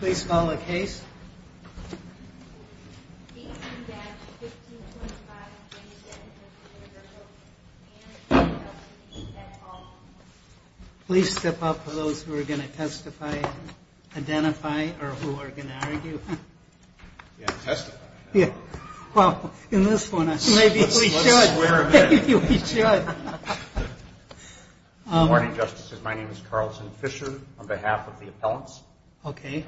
Please call the case. Please step up for those who are going to testify, identify, or who are going to argue. Good morning, Justices. My name is Carlton Fisher on behalf of the appellants. Good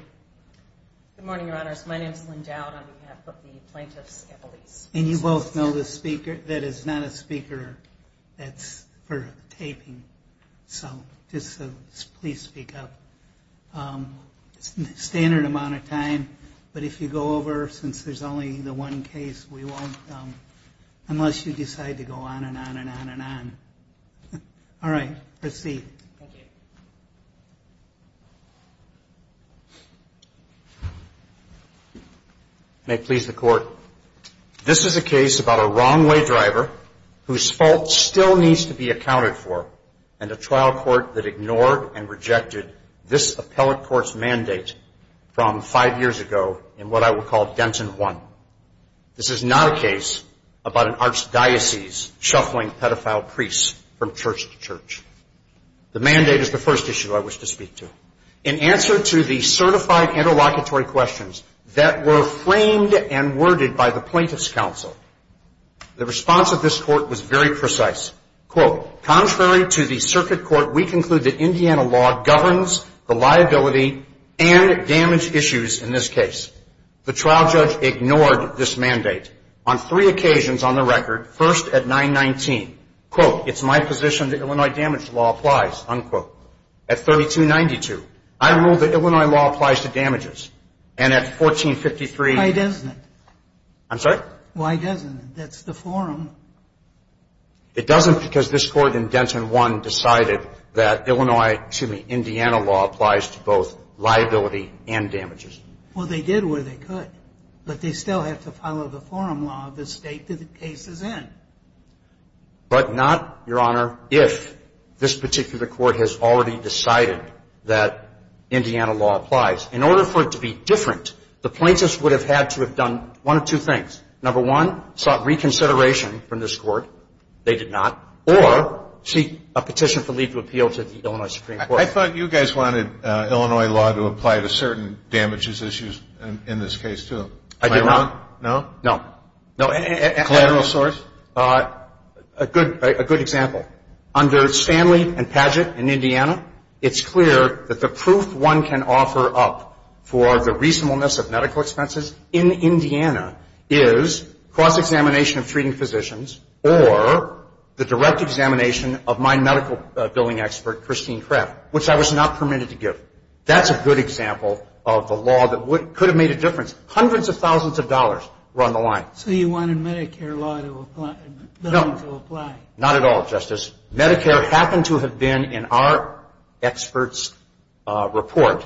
morning, Your Honors. My name is Lynn Dowd on behalf of the plaintiffs and police. And you both know this speaker that is not a speaker that's for taping, so just please speak up. It's a standard amount of time, but if you go over, since there's only the one case, we won't, unless you decide to go on and on and on and on. All right. Proceed. May it please the Court. This is a case about a wrong-way driver whose fault still needs to be accounted for, and a trial court that ignored and rejected this appellate court's mandate from five years ago in what I will call Denton 1. This is not a case about an archdiocese shuffling pedophile priests from church to church. The mandate is the first issue I wish to speak to. In answer to the certified interlocutory questions that were framed and worded by the plaintiffs' counsel, the response of this court was very precise. Quote, contrary to the circuit court, we conclude that Indiana law governs the liability and damage issues in this case. The trial judge ignored this mandate on three occasions on the record, first at 919. Quote, it's my position that Illinois damage law applies, unquote. At 3292, I ruled that Illinois law applies to damages. And at 1453. Why doesn't it? I'm sorry? Why doesn't it? That's the forum. It doesn't because this court in Denton 1 decided that Illinois, excuse me, Indiana law applies to both liability and damages. Well, they did what they could. But they still have to follow the forum law of the state that the case is in. But not, Your Honor, if this particular court has already decided that Indiana law applies. In order for it to be different, the plaintiffs would have had to have done one of two things. Number one, sought reconsideration from this court. They did not. Or seek a petition for legal appeal to the Illinois Supreme Court. I thought you guys wanted Illinois law to apply to certain damages issues in this case, too. Am I wrong? No. No. Collateral source? A good example. Under Stanley and Padgett in Indiana, it's clear that the proof one can offer up for the reasonableness of medical expenses in Indiana is cross-examination of treating physicians or the direct examination of my medical billing expert, Christine Krepp, which I was not permitted to give. That's a good example of the law that could have made a difference. Hundreds of thousands of dollars were on the line. So you wanted Medicare law to apply? No. Not at all, Justice. Medicare happened to have been in our expert's report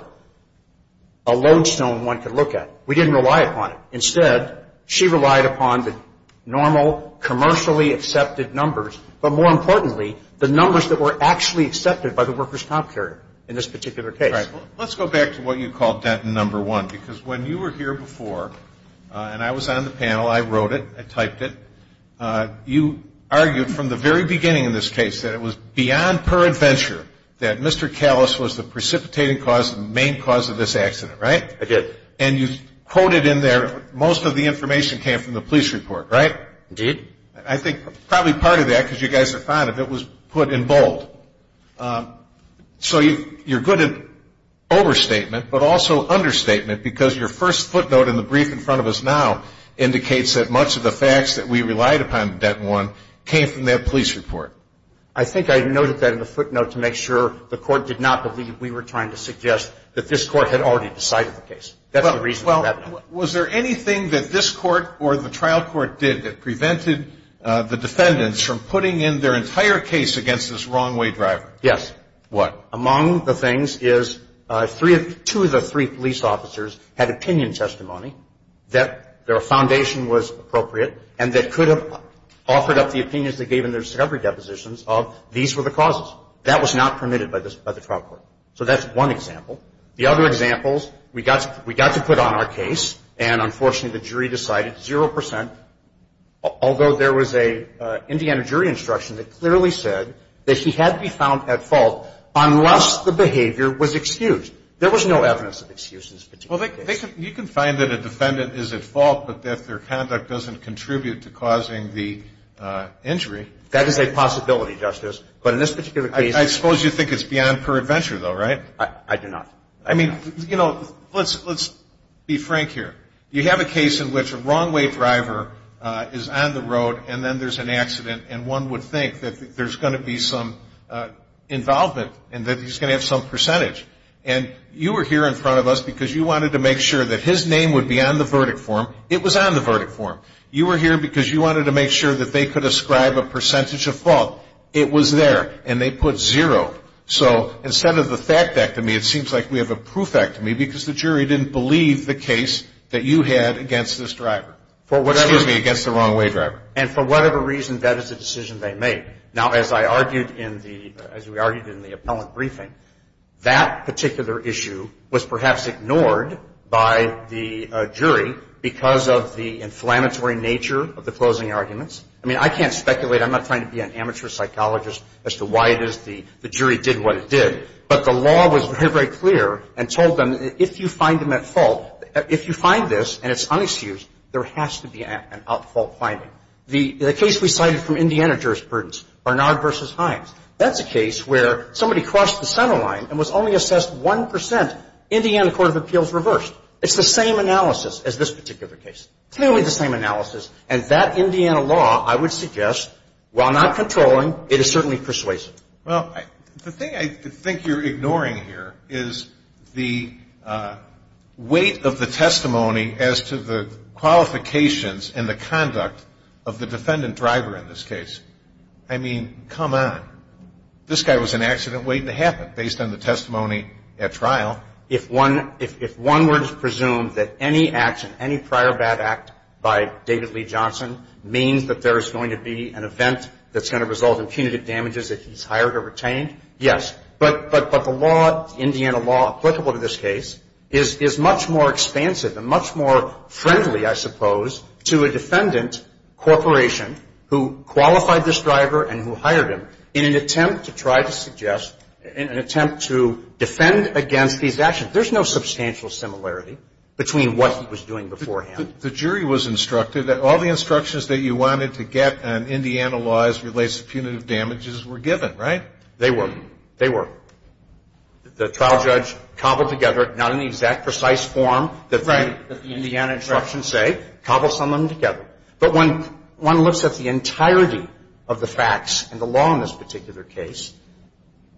a lodestone one could look at. We didn't rely upon it. Instead, she relied upon the normal commercially accepted numbers, but more importantly, the numbers that were actually accepted by the workers' comp carrier in this particular case. All right. Well, let's go back to what you called Denton number one, because when you were here before, and I was on the panel, I wrote it, I typed it. You argued from the very beginning in this case that it was beyond peradventure that Mr. Callis was the precipitating cause, the main cause of this accident, right? I did. And you quoted in there most of the information came from the police report, right? Indeed. I think probably part of that, because you guys are fond of it, was put in bold. So you're good at overstatement, but also understatement, because your first footnote in the brief in front of us now indicates that much of the facts that we relied upon in Denton one came from that police report. I think I noted that in the footnote to make sure the court did not believe we were trying to suggest that this Was there anything that this court or the trial court did that prevented the defendants from putting in their entire case against this wrong-way driver? Yes. What? Among the things is two of the three police officers had opinion testimony that their foundation was appropriate and that could have offered up the opinions they gave in their discovery depositions of these were the causes. That was not permitted by the trial court. So that's one example. The other examples, we got to put on our case, and unfortunately the jury decided 0%, although there was an Indiana jury instruction that clearly said that he had to be found at fault unless the behavior was excused. There was no evidence of excuse in this particular case. Well, you can find that a defendant is at fault, but that their conduct doesn't contribute to causing the injury. That is a possibility, Justice. But in this particular case. I suppose you think it's beyond perventure, though, right? I do not. I mean, you know, let's be frank here. You have a case in which a wrong-way driver is on the road and then there's an accident and one would think that there's going to be some involvement and that he's going to have some percentage. And you were here in front of us because you wanted to make sure that his name would be on the verdict form. It was on the verdict form. You were here because you wanted to make sure that they could ascribe a percentage of fault. It was there, and they put 0. So instead of the fact-act to me, it seems like we have a proof-act to me because the jury didn't believe the case that you had against this driver. Excuse me, against the wrong-way driver. And for whatever reason, that is a decision they made. Now, as I argued in the – as we argued in the appellant briefing, that particular issue was perhaps ignored by the jury because of the inflammatory nature of the closing arguments. I mean, I can't speculate. I'm not trying to be an amateur psychologist as to why it is the jury did what it did. But the law was very, very clear and told them if you find him at fault, if you find this and it's unexcused, there has to be an out-of-fault finding. The case we cited from Indiana jurisprudence, Barnard v. Hines, that's a case where somebody crossed the center line and was only assessed 1 percent. Indiana Court of Appeals reversed. It's the same analysis as this particular case. Clearly the same analysis. And that Indiana law, I would suggest, while not controlling, it is certainly persuasive. Well, the thing I think you're ignoring here is the weight of the testimony as to the qualifications and the conduct of the defendant driver in this case. I mean, come on. This guy was an accident waiting to happen based on the testimony at trial. If one were to presume that any action, any prior bad act by David Lee Johnson means that there is going to be an event that's going to result in punitive damages if he's hired or retained, yes. But the law, Indiana law applicable to this case, is much more expansive and much more friendly, I suppose, to a defendant corporation who qualified this driver and who hired him in an attempt to try to suggest, in an attempt to defend against these actions. There's no substantial similarity between what he was doing beforehand. The jury was instructed that all the instructions that you wanted to get on Indiana law as it relates to punitive damages were given, right? They were. They were. The trial judge cobbled together, not in the exact precise form that the Indiana instructions say, cobbled some of them together. But when one looks at the entirety of the facts and the law in this particular case,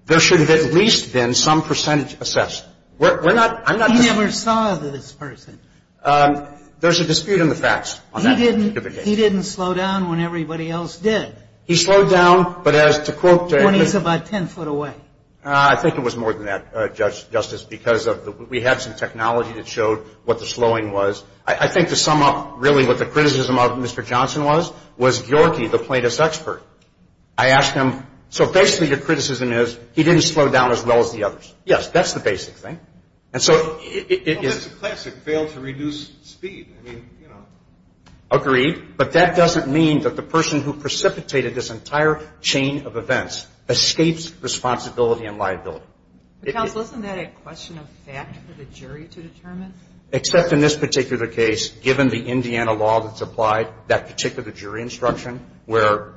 there should have at least been some percentage assessed. We're not – I'm not saying – He never saw this person. There's a dispute in the facts on that particular case. He didn't slow down when everybody else did. He slowed down, but as to quote – When he's about ten foot away. I think it was more than that, Justice, because we had some technology that showed what the slowing was. I think to sum up really what the criticism of Mr. Johnson was, was Gyorgy, the plaintiff's expert. I asked him, so basically your criticism is he didn't slow down as well as the others. Yes, that's the basic thing. And so it is – Well, that's a classic fail to reduce speed. I mean, you know. Agreed. But that doesn't mean that the person who precipitated this entire chain of events escapes responsibility and liability. Counsel, isn't that a question of fact for the jury to determine? Except in this particular case, given the Indiana law that's applied, that particular jury instruction where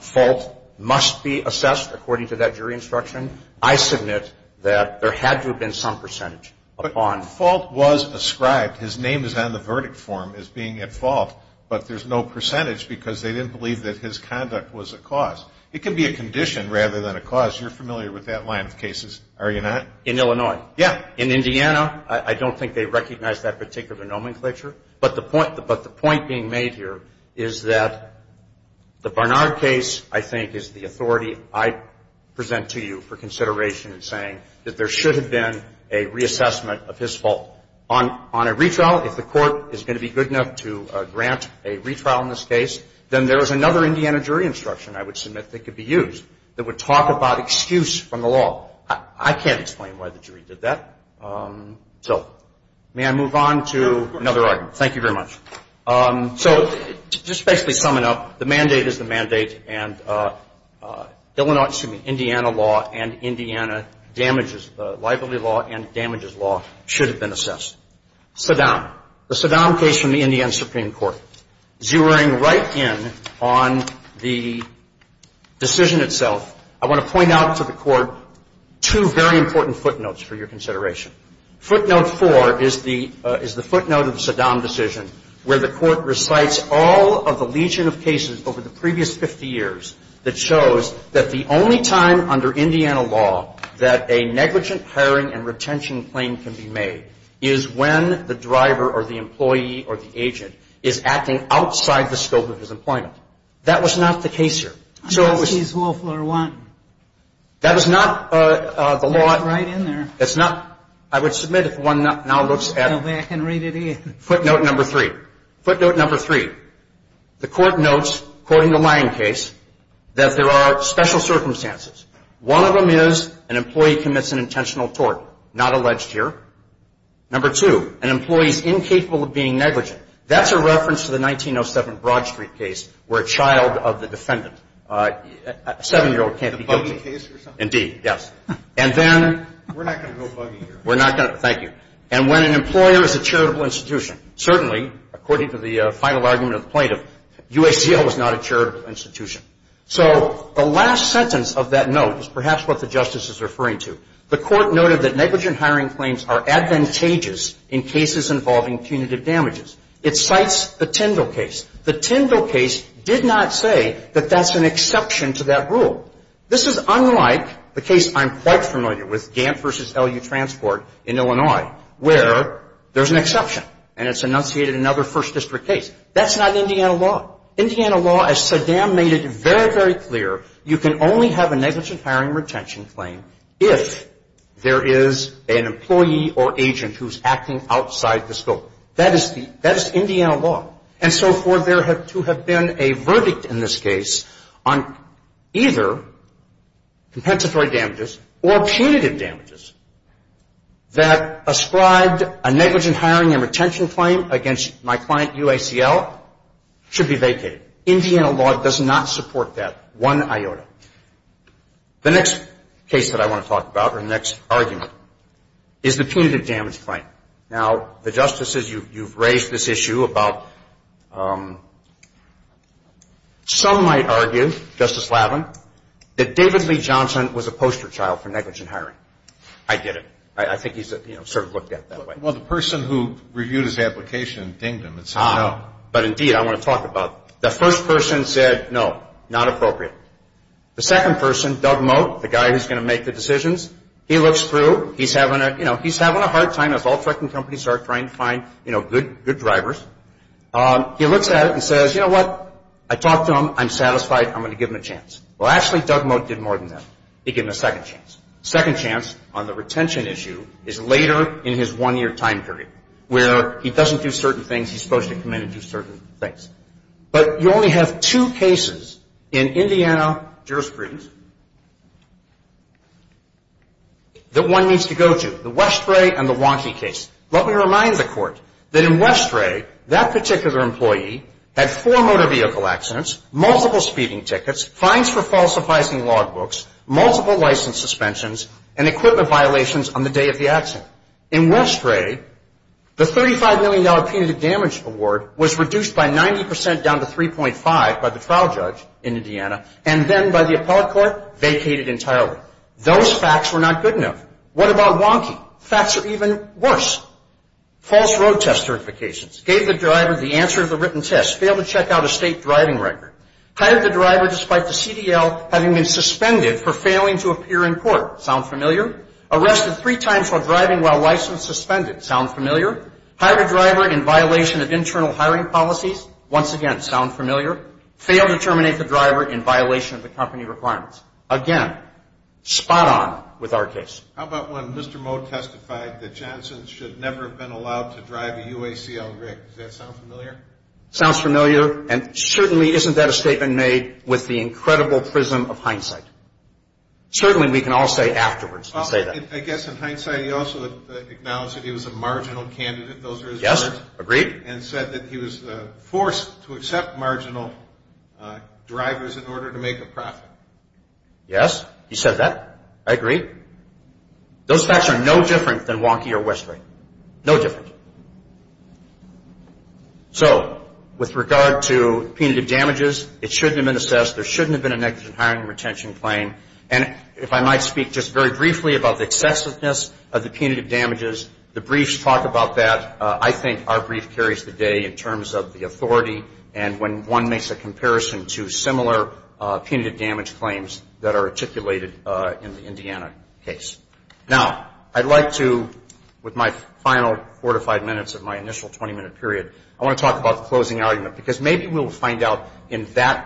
fault must be assessed according to that jury instruction, I submit that there had to have been some percentage upon – But fault was ascribed. His name is on the verdict form as being at fault, but there's no percentage because they didn't believe that his conduct was a cause. It could be a condition rather than a cause. You're familiar with that line of cases, are you not? In Illinois. Yeah. In Indiana, I don't think they recognize that particular nomenclature. But the point being made here is that the Barnard case, I think, is the authority I present to you for consideration in saying that there should have been a reassessment of his fault. On a retrial, if the court is going to be good enough to grant a retrial in this case, then there is another Indiana jury instruction, I would submit, that could be used that would talk about excuse from the law. I can't explain why the jury did that. So may I move on to another argument? Thank you very much. So just basically summing up, the mandate is the mandate, and Illinois, excuse me, Indiana law and Indiana damages, the liability law and damages law should have been assessed. Saddam. The Saddam case from the Indiana Supreme Court. Zeroing right in on the decision itself, I want to point out to the Court two very important footnotes for your consideration. Footnote four is the footnote of the Saddam decision, where the Court recites all of the legion of cases over the previous 50 years that shows that the only time under Indiana law that a negligent hiring and retention claim can be made is when the driver or the employee or the agent is acting outside the scope of his employment. That was not the case here. So it was. She's Wolf or what? That was not the law. That's right in there. That's not. I would submit if one now looks at. Go back and read it again. Footnote number three. Footnote number three. The Court notes, quoting the Lyon case, that there are special circumstances. One of them is an employee commits an intentional tort, not alleged here. Number two, an employee is incapable of being negligent. That's a reference to the 1907 Broad Street case where a child of the defendant, a seven-year-old can't be guilty. A buggy case or something? Indeed, yes. And then. We're not going to go buggy here. We're not going to. Thank you. And when an employer is a charitable institution, certainly, according to the final argument of the plaintiff, UACL was not a charitable institution. So the last sentence of that note is perhaps what the Justice is referring to. The Court noted that negligent hiring claims are advantageous in cases involving punitive damages. It cites the Tyndall case. The Tyndall case did not say that that's an exception to that rule. This is unlike the case I'm quite familiar with, Gantt v. LU Transport in Illinois, where there's an exception and it's enunciated in another First District case. That's not Indiana law. As Saddam made it very, very clear, you can only have a negligent hiring and retention claim if there is an employee or agent who's acting outside the scope. That is Indiana law. And so for there to have been a verdict in this case on either compensatory damages or punitive damages that ascribed a negligent hiring and retention claim against my client, UACL should be vacated. Indiana law does not support that one iota. The next case that I want to talk about or the next argument is the punitive damage claim. Now, the Justice says you've raised this issue about some might argue, Justice Lavin, that David Lee Johnson was a poster child for negligent hiring. I get it. I think he's sort of looked at that way. Well, the person who reviewed his application dinged him and said no. But indeed, I want to talk about that. The first person said no, not appropriate. The second person, Doug Mote, the guy who's going to make the decisions, he looks through. He's having a hard time as all trucking companies are trying to find good drivers. He looks at it and says, you know what? I talked to him. I'm satisfied. I'm going to give him a chance. Well, actually, Doug Mote did more than that. He gave him a second chance. Second chance on the retention issue is later in his one-year time period where he doesn't do certain things. He's supposed to come in and do certain things. But you only have two cases in Indiana jurisprudence that one needs to go to, the Westray and the Wonky case. Let me remind the Court that in Westray, that particular employee had four motor vehicle accidents, multiple speeding tickets, fines for falsifying log books, multiple license suspensions, and equipment violations on the day of the accident. In Westray, the $35 million punitive damage award was reduced by 90 percent down to 3.5 by the trial judge in Indiana, and then by the appellate court vacated entirely. Those facts were not good enough. What about Wonky? Facts are even worse. False road test certifications. Gave the driver the answer to the written test. Failed to check out a state driving record. Hired the driver despite the CDL having been suspended for failing to appear in court. Sound familiar? Arrested three times while driving while license suspended. Sound familiar? Hired a driver in violation of internal hiring policies. Once again, sound familiar? Failed to terminate the driver in violation of the company requirements. Again, spot on with our case. How about when Mr. Moe testified that Johnson should never have been allowed to drive a UACL rig? Does that sound familiar? Sounds familiar, and certainly isn't that a statement made with the incredible prism of hindsight? Certainly we can all say afterwards and say that. I guess in hindsight he also acknowledged that he was a marginal candidate. Those are his words. Yes, agreed. And said that he was forced to accept marginal drivers in order to make a profit. Yes, he said that. I agree. Those facts are no different than Wonky or Westray. No different. So with regard to punitive damages, it shouldn't have been assessed, there shouldn't have been a negligent hiring and retention claim. And if I might speak just very briefly about the excessiveness of the punitive damages, the briefs talk about that. I think our brief carries the day in terms of the authority and when one makes a comparison to similar punitive damage claims that are articulated in the Indiana case. Now, I'd like to, with my final four to five minutes of my initial 20-minute period, I want to talk about the closing argument because maybe we'll find out in that.